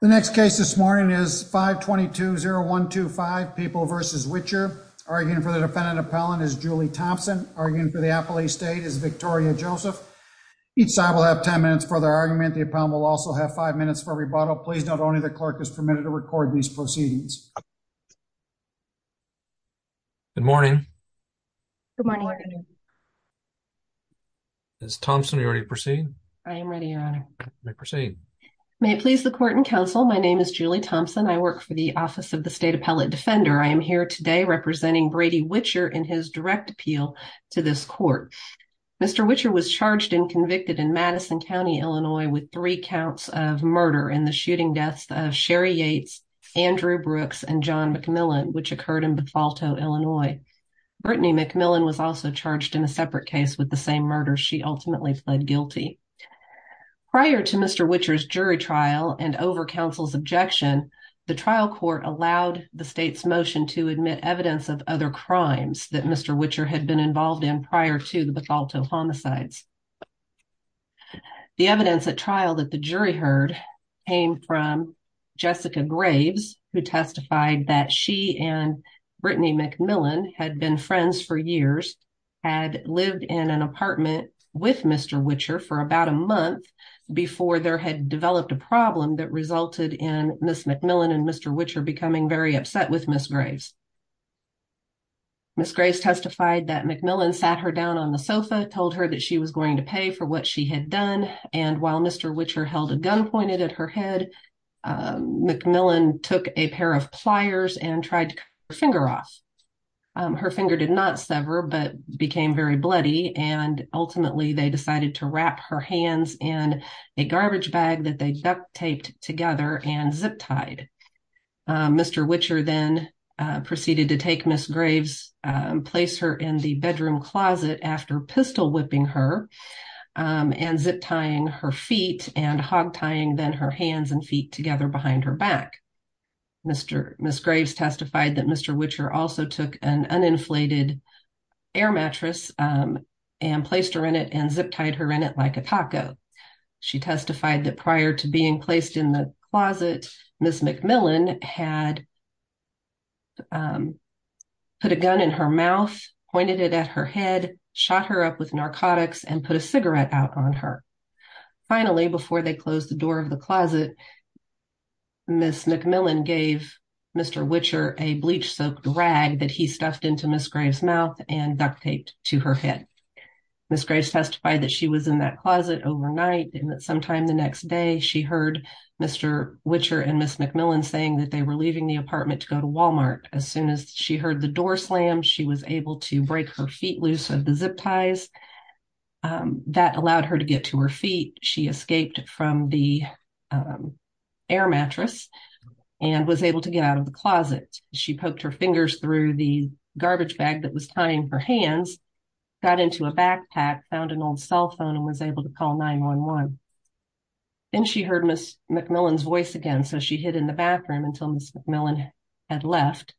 The next case this morning is 522-0125, People v. Witcher. Arguing for the defendant appellant is Julie Thompson. Arguing for the appellee state is Victoria Joseph. Each side will have 10 minutes for their argument. The appellant will also have 5 minutes for rebuttal. Please note only the clerk is permitted to record these proceedings. Good morning. Good morning. Ms. Thompson, are you ready to proceed? I am ready, Your Honor. You may proceed. May it please the court and counsel, my name is Julie Thompson. I work for the Office of the State Appellate Defender. I am here today representing Brady Witcher in his direct appeal to this court. Mr. Witcher was charged and convicted in Madison County, Illinois, with three counts of murder in the shooting deaths of Sherry Yates, Andrew Brooks, and John McMillan, which occurred in Bethalto, Illinois. Brittany McMillan was also charged in a separate case with the same murder. She ultimately pled guilty. Prior to Mr. Witcher's jury trial and over counsel's objection, the trial court allowed the state's motion to admit evidence of other crimes that Mr. Witcher had been involved in prior to the Bethalto homicides. The evidence at trial that the jury heard came from Jessica Graves, who testified that she and Brittany McMillan had been friends for years, and had lived in an apartment with Mr. Witcher for about a month before there had developed a problem that resulted in Ms. McMillan and Mr. Witcher becoming very upset with Ms. Graves. Ms. Graves testified that McMillan sat her down on the sofa, told her that she was going to pay for what she had done, and while Mr. Witcher held a gun pointed at her head, McMillan took a pair of pliers and tried to cut her finger off. Her finger did not sever, but became very bloody, and ultimately they decided to wrap her hands in a garbage bag that they duct-taped together and zip-tied. Mr. Witcher then proceeded to take Ms. Graves, place her in the bedroom closet after pistol-whipping her, and zip-tying her feet and hog-tying then her hands and feet together behind her back. Ms. Graves testified that Mr. Witcher also took an uninflated air mattress and placed her in it and zip-tied her in it like a taco. She testified that prior to being placed in the closet, Ms. McMillan had put a gun in her mouth, pointed it at her head, shot her up with narcotics, and put a cigarette out on her. Finally, before they closed the door of the closet, Ms. McMillan gave Mr. Witcher a bleach-soaked rag that he stuffed into Ms. Graves' mouth and duct-taped to her head. Ms. Graves testified that she was in that closet overnight, and that sometime the next day she heard Mr. Witcher and Ms. McMillan saying that they were leaving the apartment to go to Walmart. As soon as she heard the door slam, she was able to break her feet loose of the zip-ties. That allowed her to get to her feet. She escaped from the air mattress and was able to get out of the closet. She poked her fingers through the garbage bag that was tying her hands, got into a backpack, found an old cell phone, and was able to call 911. Then she heard Ms. McMillan's voice again, so she hid in the bathroom until Ms. McMillan had left.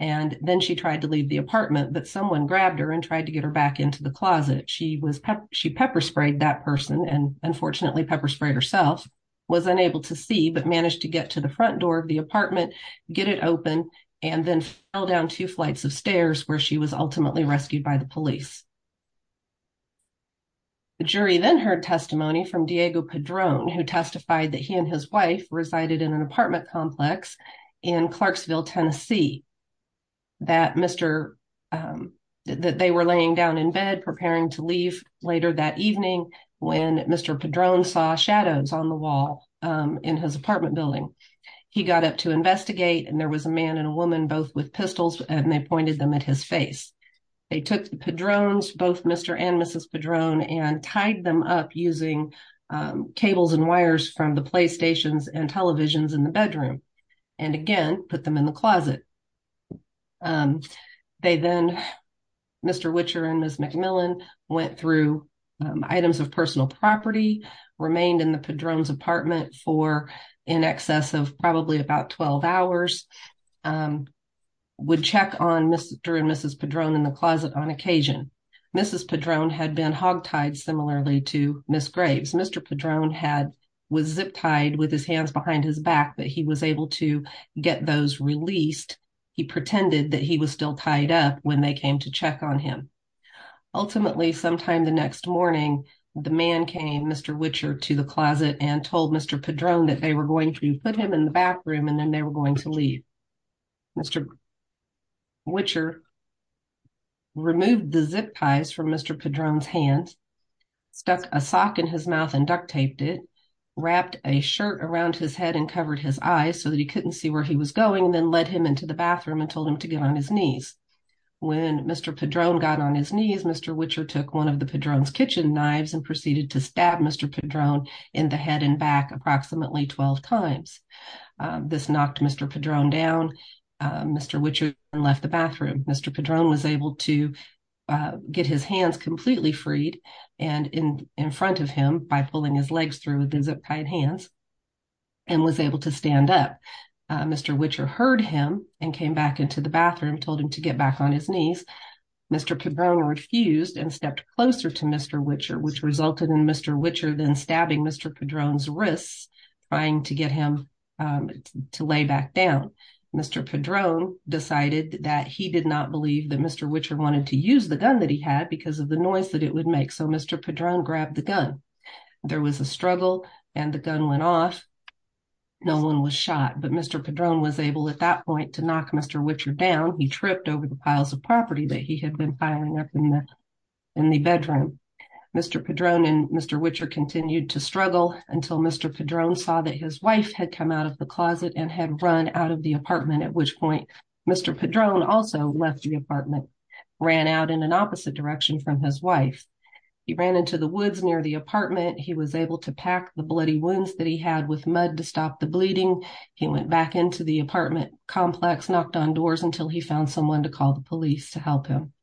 Then she tried to leave the apartment, but someone grabbed her and tried to get her back into the closet. She pepper-sprayed that person, and unfortunately pepper-sprayed herself. She was unable to see, but managed to get to the front door of the apartment, get it open, and then fell down two flights of stairs, where she was ultimately rescued by the police. The jury then heard testimony from Diego Padron, who testified that he and his wife resided in an apartment complex in Clarksville, Tennessee. They were laying down in bed preparing to leave later that evening when Mr. Padron saw shadows on the wall in his apartment building. He got up to investigate, and there was a man and a woman both with pistols, and they pointed them at his face. They took the Padrons, both Mr. and Mrs. Padron, and tied them up using cables and wires from the playstations and televisions in the bedroom, and again, put them in the closet. They then, Mr. Witcher and Ms. McMillan, went through items of personal property, remained in the Padron's apartment for in excess of probably about 12 hours, would check on Mr. and Mrs. Padron in the closet on occasion. Mrs. Padron had been hog-tied similarly to Ms. Graves. Mr. Padron was zip-tied with his hands behind his back, but he was able to get those released. He pretended that he was still tied up when they came to check on him. Ultimately, sometime the next morning, the man came, Mr. Witcher, to the closet and told Mr. Padron that they were going to put him in the back room, and then they were going to leave. Mr. Witcher removed the zip-ties from Mr. Padron's hand, stuck a sock in his mouth and duct-taped it, wrapped a shirt around his head and covered his eyes so that he couldn't see where he was going, and then led him into the bathroom and told him to get on his knees. When Mr. Padron got on his knees, Mr. Witcher took one of the Padron's kitchen knives and proceeded to stab Mr. Padron in the head and back approximately 12 times. Mr. Witcher then left the bathroom. Mr. Padron was able to get his hands completely freed and in front of him by pulling his legs through with the zip-tied hands and was able to stand up. Mr. Witcher heard him and came back into the bathroom, told him to get back on his knees. Mr. Padron refused and stepped closer to Mr. Witcher, which resulted in Mr. Witcher then stabbing Mr. Padron's wrists, trying to get him to lay back down. Mr. Padron decided that he did not believe that Mr. Witcher wanted to use the gun that he had because of the noise that it would make, so Mr. Padron grabbed the gun. There was a struggle and the gun went off. No one was shot, but Mr. Padron was able at that point to knock Mr. Witcher down. He tripped over the piles of property that he had been firing up in the bedroom. Mr. Padron and Mr. Witcher continued to struggle until Mr. Padron saw that his wife had come out of the closet and had run out of the apartment, at which point Mr. Padron also left the apartment, ran out in an opposite direction from his wife. He ran into the woods near the apartment. He was able to pack the bloody wounds that he had with mud to stop the bleeding. He went back into the apartment complex, knocked on doors until he found someone to call the police to help him.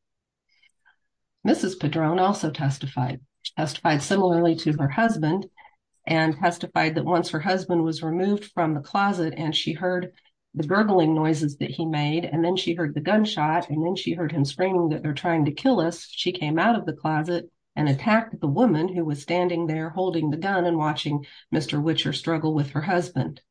Mrs. Padron also testified, testified similarly to her husband, and testified that once her husband was removed from the closet and she heard the gurgling noises that he made, and then she heard the gunshot, and then she heard him screaming that they're trying to kill us, she came out of the closet and attacked the woman who was standing there holding the gun and watching Mr. Witcher struggle with her husband.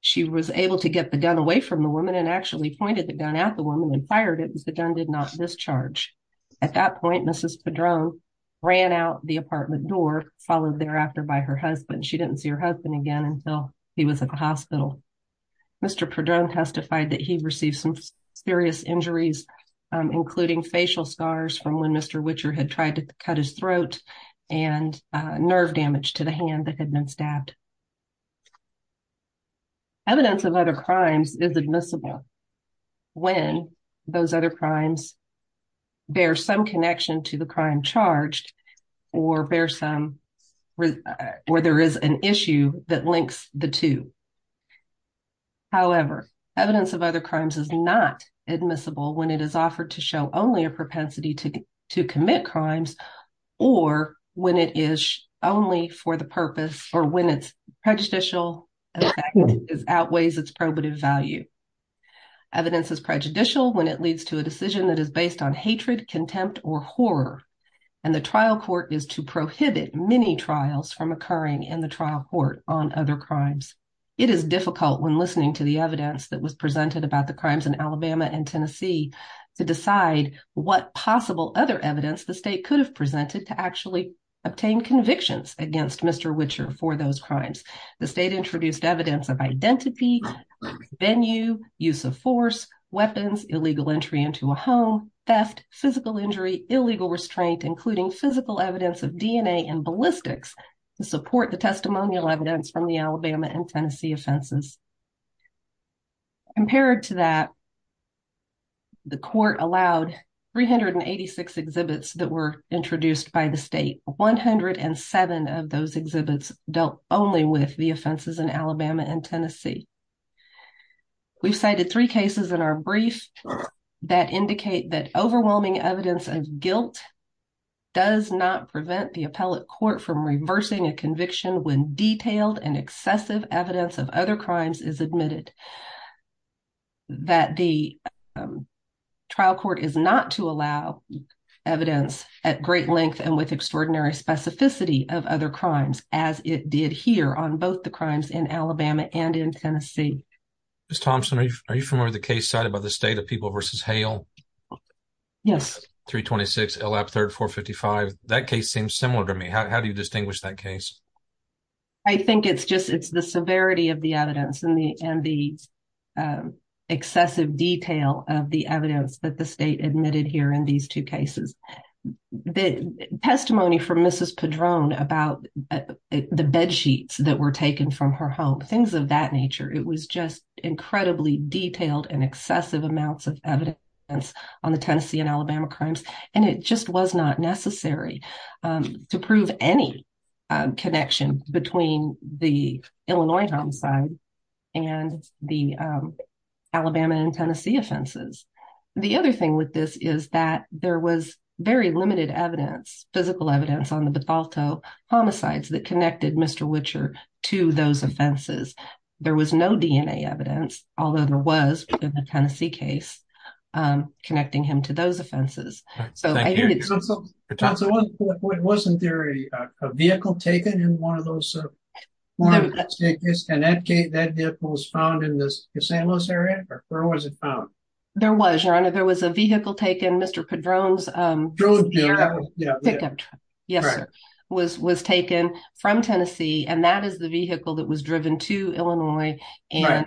She was able to get the gun away from the woman and actually pointed the gun at the woman and fired it because the gun did not discharge. At that point, Mrs. Padron ran out the apartment door, followed thereafter by her husband. She didn't see her husband again until he was at the hospital. Mr. Padron testified that he received some serious injuries, including facial scars from when Mr. Witcher had tried to cut his throat and nerve damage to the hand that had been stabbed. Evidence of other crimes is admissible. When those other crimes bear some connection to the crime charged or there is an issue that links the two. However, evidence of other crimes is not admissible when it is offered to show only a propensity to commit crimes or when it is only for the purpose or when its prejudicial effect outweighs its probative value. Evidence is prejudicial when it leads to a decision that is based on hatred, contempt, or horror, and the trial court is to prohibit many trials from occurring in the trial court on other crimes. It is difficult when listening to the evidence that was presented about the crimes in Alabama and Tennessee to decide what possible other evidence the state could have presented to actually obtain convictions against Mr. Witcher for those crimes. The state introduced evidence of identity, venue, use of force, weapons, illegal entry into a home, theft, physical injury, illegal restraint, including physical evidence of DNA and ballistics to support the testimonial evidence from the Alabama and Tennessee offenses. Compared to that, the court allowed 386 exhibits that were introduced by the state. 107 of those exhibits dealt only with the offenses in Alabama and Tennessee. We've cited three cases in our brief that indicate that overwhelming evidence of guilt does not prevent the appellate court from reversing a conviction when detailed and excessive evidence of other crimes is admitted, that the trial court is not to allow evidence at great length and with extraordinary specificity of other crimes, as it did here on both the crimes in Alabama and in Tennessee. Ms. Thompson, are you familiar with the case cited by the state of People v. Hale? Yes. 326 L. App III 455. That case seems similar to me. How do you distinguish that case? I think it's just the severity of the evidence and the excessive detail of the evidence that the state admitted here in these two cases. The testimony from Mrs. Padron about the bedsheets that were taken from her home, things of that nature, it was just incredibly detailed and excessive amounts of evidence on the Tennessee and Alabama crimes, and it just was not necessary to prove any connection between the Illinois homicide and the Alabama and Tennessee offenses. The other thing with this is that there was very limited evidence, physical evidence, on the Bethalto homicides that connected Mr. Witcher to those offenses. There was no DNA evidence, although there was in the Tennessee case, connecting him to those offenses. Thank you. Ms. Thompson, wasn't there a vehicle taken in one of those, and that vehicle was found in the St. Louis area? Where was it found? There was, Your Honor. There was a vehicle taken. Mr. Padron's pickup truck was taken from Tennessee, and that is the vehicle that was driven to Illinois and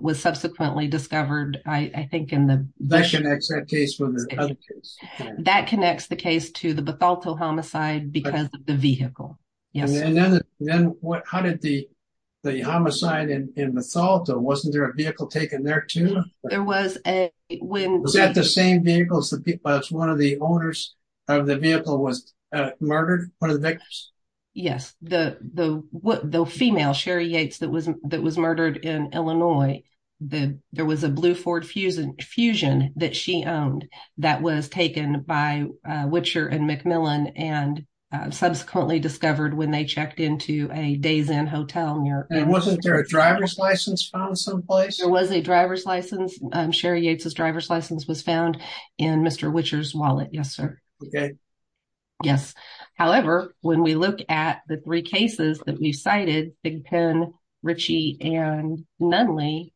was subsequently discovered, I think, in the- That connects that case with the other case. That connects the case to the Bethalto homicide because of the vehicle. Yes. Then how did the homicide in Bethalto, wasn't there a vehicle taken there too? There was a- Was that the same vehicle as one of the owners of the vehicle was murdered, one of the victims? Yes. The female, Sherry Yates, that was murdered in Illinois, there was a blue Ford Fusion that she owned that was taken by Witcher and McMillan and subsequently discovered when they checked into a Days Inn hotel. Wasn't there a driver's license found someplace? There was a driver's license. Sherry Yates' driver's license was found in Mr. Witcher's wallet, yes, sir. Okay. Yes. However, when we look at the three cases that we cited, Big Penn, Ritchie, and Nunley,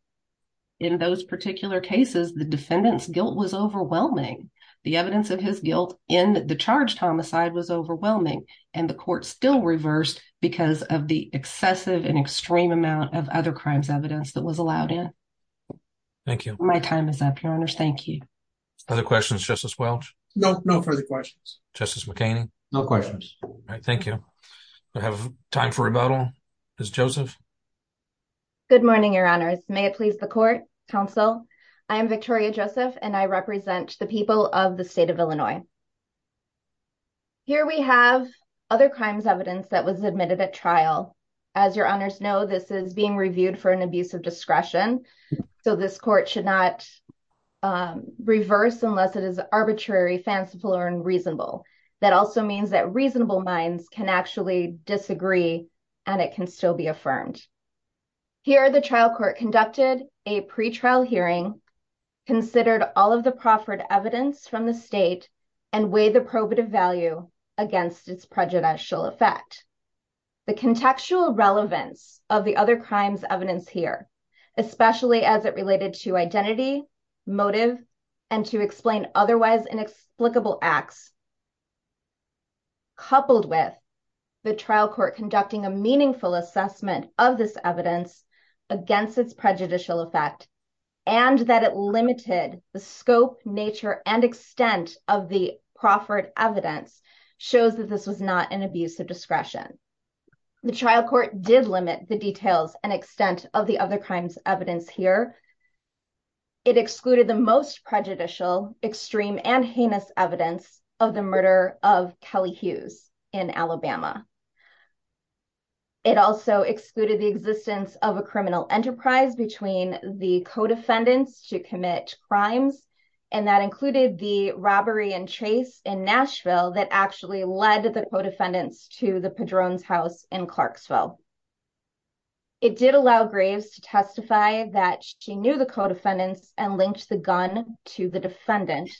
in those particular cases, the defendant's guilt was overwhelming. The evidence of his guilt in the charged homicide was overwhelming, and the court still reversed because of the excessive and extreme amount of other crimes evidence that was allowed in. Thank you. My time is up, Your Honors. Thank you. Other questions, Justice Welch? No, no further questions. Justice McHaney? No questions. All right. Thank you. We have time for rebuttal. Ms. Joseph? Good morning, Your Honors. May it please the court, counsel. I am Victoria Joseph, and I represent the people of the state of Illinois. Here we have other crimes evidence that was admitted at trial. As Your Honors know, this is being reviewed for an abuse of discretion, so this court should not reverse unless it is arbitrary, fanciful, or unreasonable. That also means that reasonable minds can actually disagree, and it can still be affirmed. Here the trial court conducted a pretrial hearing, considered all of the proffered evidence from the state, and weighed the probative value against its prejudicial effect. The contextual relevance of the other crimes evidence here, especially as it related to identity, motive, and to explain otherwise inexplicable acts, coupled with the trial court conducting a meaningful assessment of this evidence against its prejudicial effect, and that it limited the scope, nature, and extent of the proffered evidence, shows that this was not an abuse of discretion. The trial court did limit the details and extent of the other crimes evidence here. It excluded the most prejudicial, extreme, and heinous evidence of the murder of Kelly Hughes in Alabama. It also excluded the existence of a criminal enterprise between the co-defendants to commit crimes, and that included the robbery and chase in Nashville that actually led the co-defendants to the Padron's house in Clarksville. It did allow Graves to testify that she knew the co-defendants and linked the gun to the defendant.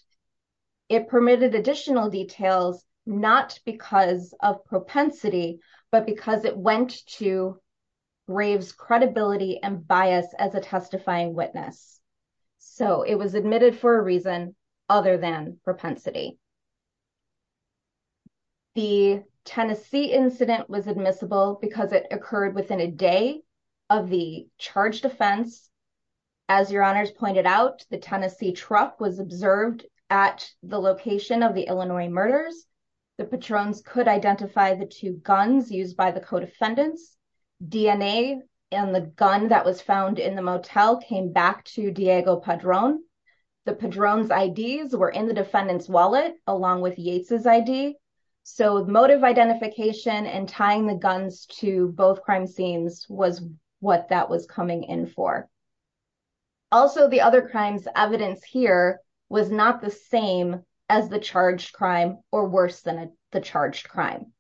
It permitted additional details, not because of propensity, but because it went to Graves' credibility and bias as a testifying witness. So it was admitted for a reason other than propensity. The Tennessee incident was admissible because it occurred within a day of the charge defense. As your honors pointed out, the Tennessee truck was observed at the location of the Illinois murders. The Padrons could identify the two guns used by the co-defendants. DNA and the gun that was found in the motel came back to Diego Padron. The Padron's IDs were in the defendant's wallet along with Yates' ID. So motive identification and tying the guns to both crime scenes was what that was coming in for. Also, the other crimes evidence here was not the same as the charged crime or worse than the charged crime.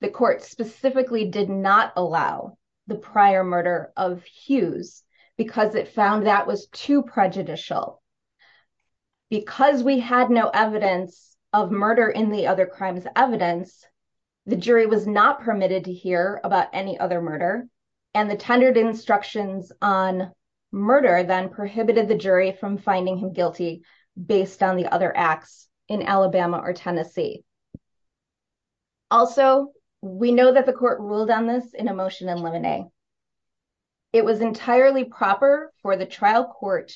The court specifically did not allow the prior murder of Hughes because it was illegal. Because we had no evidence of murder in the other crimes evidence, the jury was not permitted to hear about any other murder. And the tendered instructions on murder then prohibited the jury from finding him guilty based on the other acts in Alabama or Tennessee. Also, we know that the court ruled on this in a motion in limine. It was entirely proper for the trial court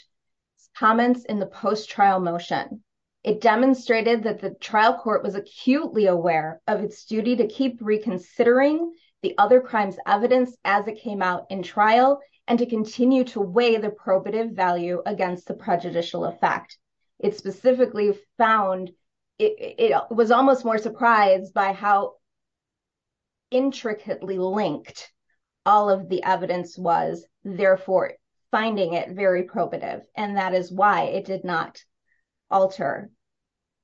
comments in the post-trial motion. It demonstrated that the trial court was acutely aware of its duty to keep reconsidering the other crimes evidence as it came out in trial and to continue to weigh the probative value against the prejudicial effect. It specifically found it was almost more surprised by how intricately linked all of the evidence was, therefore, finding it very probative. And that is why it did not alter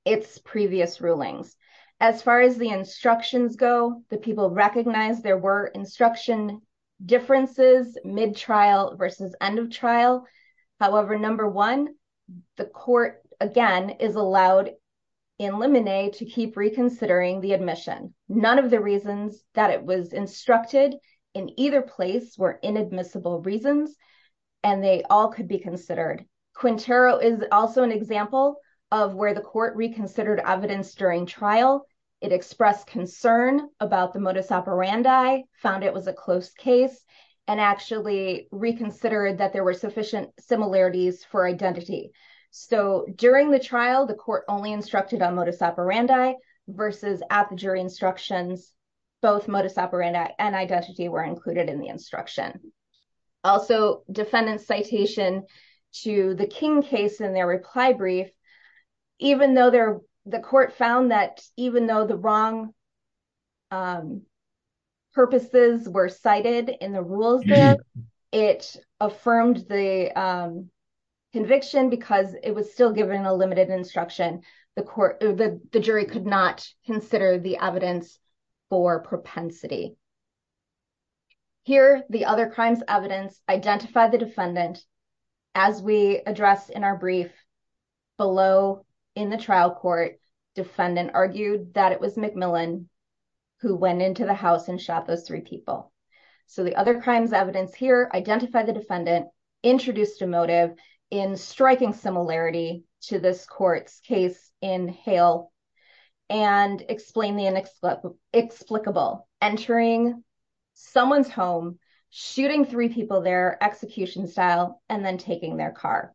its previous rulings. As far as the instructions go, the people recognized there were instruction differences mid-trial versus end-of-trial. However, number one, the court, again, is allowed in limine to keep reconsidering the admission. None of the reasons that it was instructed in either place were inadmissible reasons, and they all could be considered. Quintero is also an example of where the court reconsidered evidence during trial. It expressed concern about the modus operandi, found it was a close case, and actually reconsidered that there were sufficient similarities for identity. So during the trial, the court only instructed on modus operandi versus at the jury instructions, both modus operandi and identity were included in the instruction. Also, defendant's citation to the King case in their reply brief, even though the court found that even though the wrong purposes were cited in the rules there, it affirmed the conviction because it was still given a limited instruction. The jury could not consider the evidence for propensity. Here, the other crimes evidence identified the defendant as we address in our brief below in the trial court, defendant argued that it was McMillan who went into the house and shot those three people. So the other crimes evidence here, identify the defendant introduced a motive in striking similarity to this court's case in Hale and explain the inexplicable, entering someone's home, shooting three people there execution style, and then taking their car.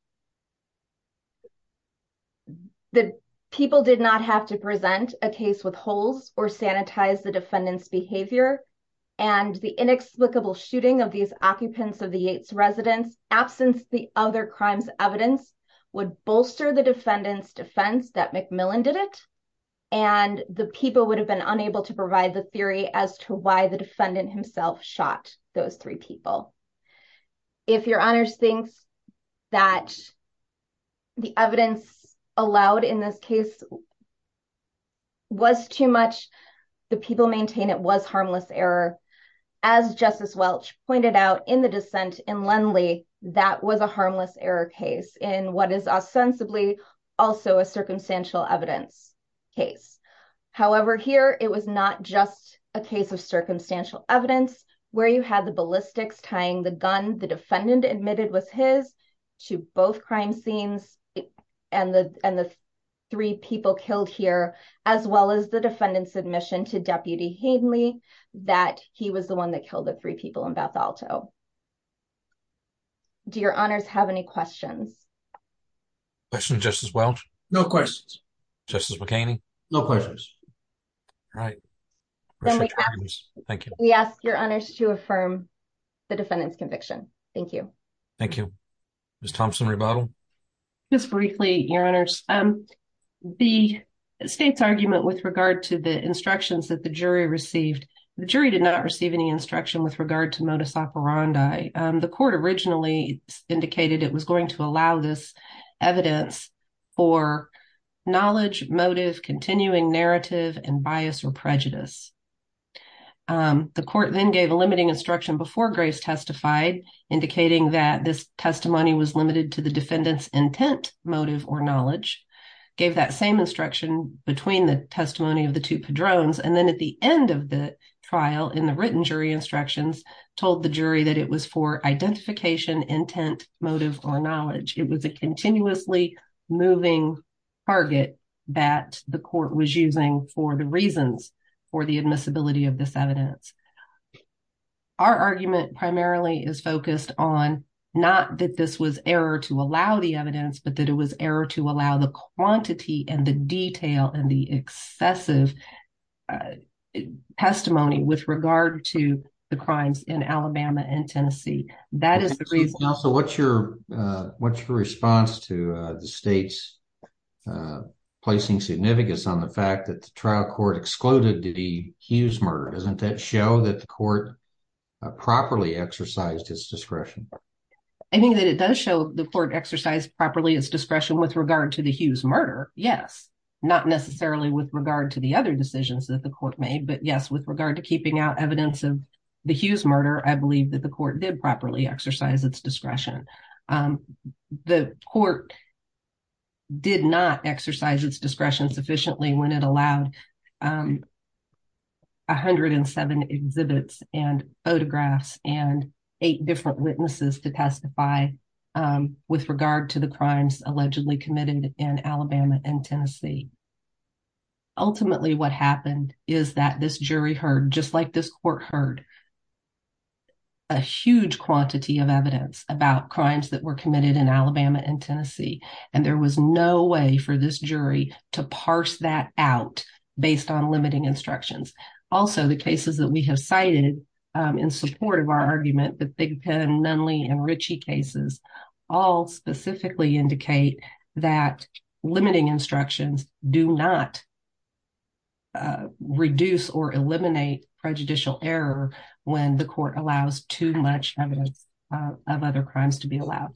The people did not have to present a case with holes or sanitize the defendant's behavior. And the inexplicable shooting of these occupants of the Yates residence absence, the other crimes evidence would bolster the defendant's defense that McMillan did it. And the people would have been unable to provide the theory as to why the defendant himself shot those three people. If your honors thinks that the evidence allowed in this case was too much, the people maintain it was harmless error. As justice Welch pointed out in the descent in Lendley, that was a harmless error case in what is ostensibly also a circumstantial evidence case. However, here it was not just a case of circumstantial evidence where you had the ballistics tying the gun. The defendant admitted was his to both crime scenes and the, the shooting of the three people killed here, as well as the defendant's admission to deputy Hayden Lee, that he was the one that killed the three people in Beth Alto. Do your honors have any questions? I should just as well. No questions. Just as McCain. No questions. All right. Thank you. We ask your honors to affirm the defendant's conviction. Thank you. Thank you. Ms. Thompson rebuttal. Just briefly, your honors. The state's argument with regard to the instructions that the jury received, the jury did not receive any instruction with regard to modus operandi. The court originally indicated it was going to allow this evidence. Or knowledge motive, continuing narrative and bias or prejudice. The court then gave a limiting instruction before grace testified, indicating that this testimony was limited to the defendant's intent, motive, or knowledge. Gave that same instruction between the testimony of the two padrones. And then at the end of the trial in the written jury instructions told the jury that it was for identification, intent, motive, or knowledge. It was a continuously. Moving. Target. That the court was using for the reasons. For the admissibility of this evidence. Our argument primarily is focused on. Not that this was error to allow the evidence, but that it was error to allow the quantity and the detail and the excessive. Testimony with regard to the crimes in Alabama and Tennessee. That is the reason. So what's your. What's your response to the state's. Placing significance on the fact that the trial court excluded the huge murder. Doesn't that show that the court. Properly exercised his discretion. I think that it does show the court exercise properly as discretion with regard to the Hughes murder. Yes. Not necessarily with regard to the other decisions that the court made, but yes, with regard to keeping out evidence of. The Hughes murder. I believe that the court did properly exercise its discretion. The court. Did not exercise its discretion sufficiently when it allowed. 107 exhibits and photographs and eight different witnesses to testify. With regard to the crimes allegedly committed in Alabama and Tennessee. Ultimately, what happened is that this jury heard, just like this court heard. A huge quantity of evidence about crimes that were committed in Alabama and Tennessee, and there was no way for this jury to parse that out based on limiting instructions. Also the cases that we have cited in support of our argument, but they can Nunley and Richie cases. All specifically indicate that limiting instructions do not. Reduce or eliminate prejudicial error. When the court allows too much evidence of other crimes to be allowed.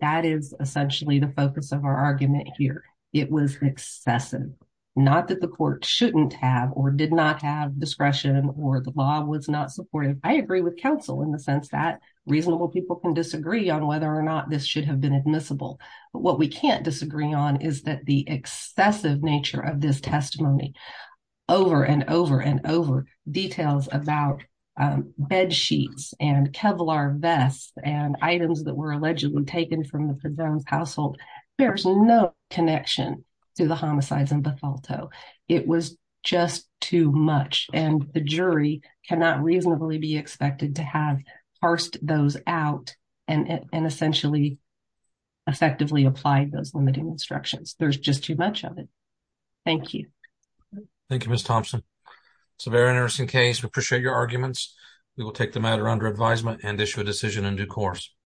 That is essentially the focus of our argument here. It was excessive. Not that the court shouldn't have, or did not have discretion or the law was not supportive. I agree with counsel in the sense that reasonable people can disagree on whether or not this should have been admissible, but what we can't disagree on is that the excessive nature of this testimony. Over and over and over details about. Bedsheets and Kevlar vests and items that were allegedly taken from the household. There's no connection to the homicides in Bethel toe. It was just too much. And the jury cannot reasonably be expected to have parsed those out. And essentially. Effectively applied those limiting instructions. There's just too much of it. Thank you. Thank you, Miss Thompson. It's a very interesting case. We appreciate your arguments. We will take the matter under advisement and issue a decision in due course.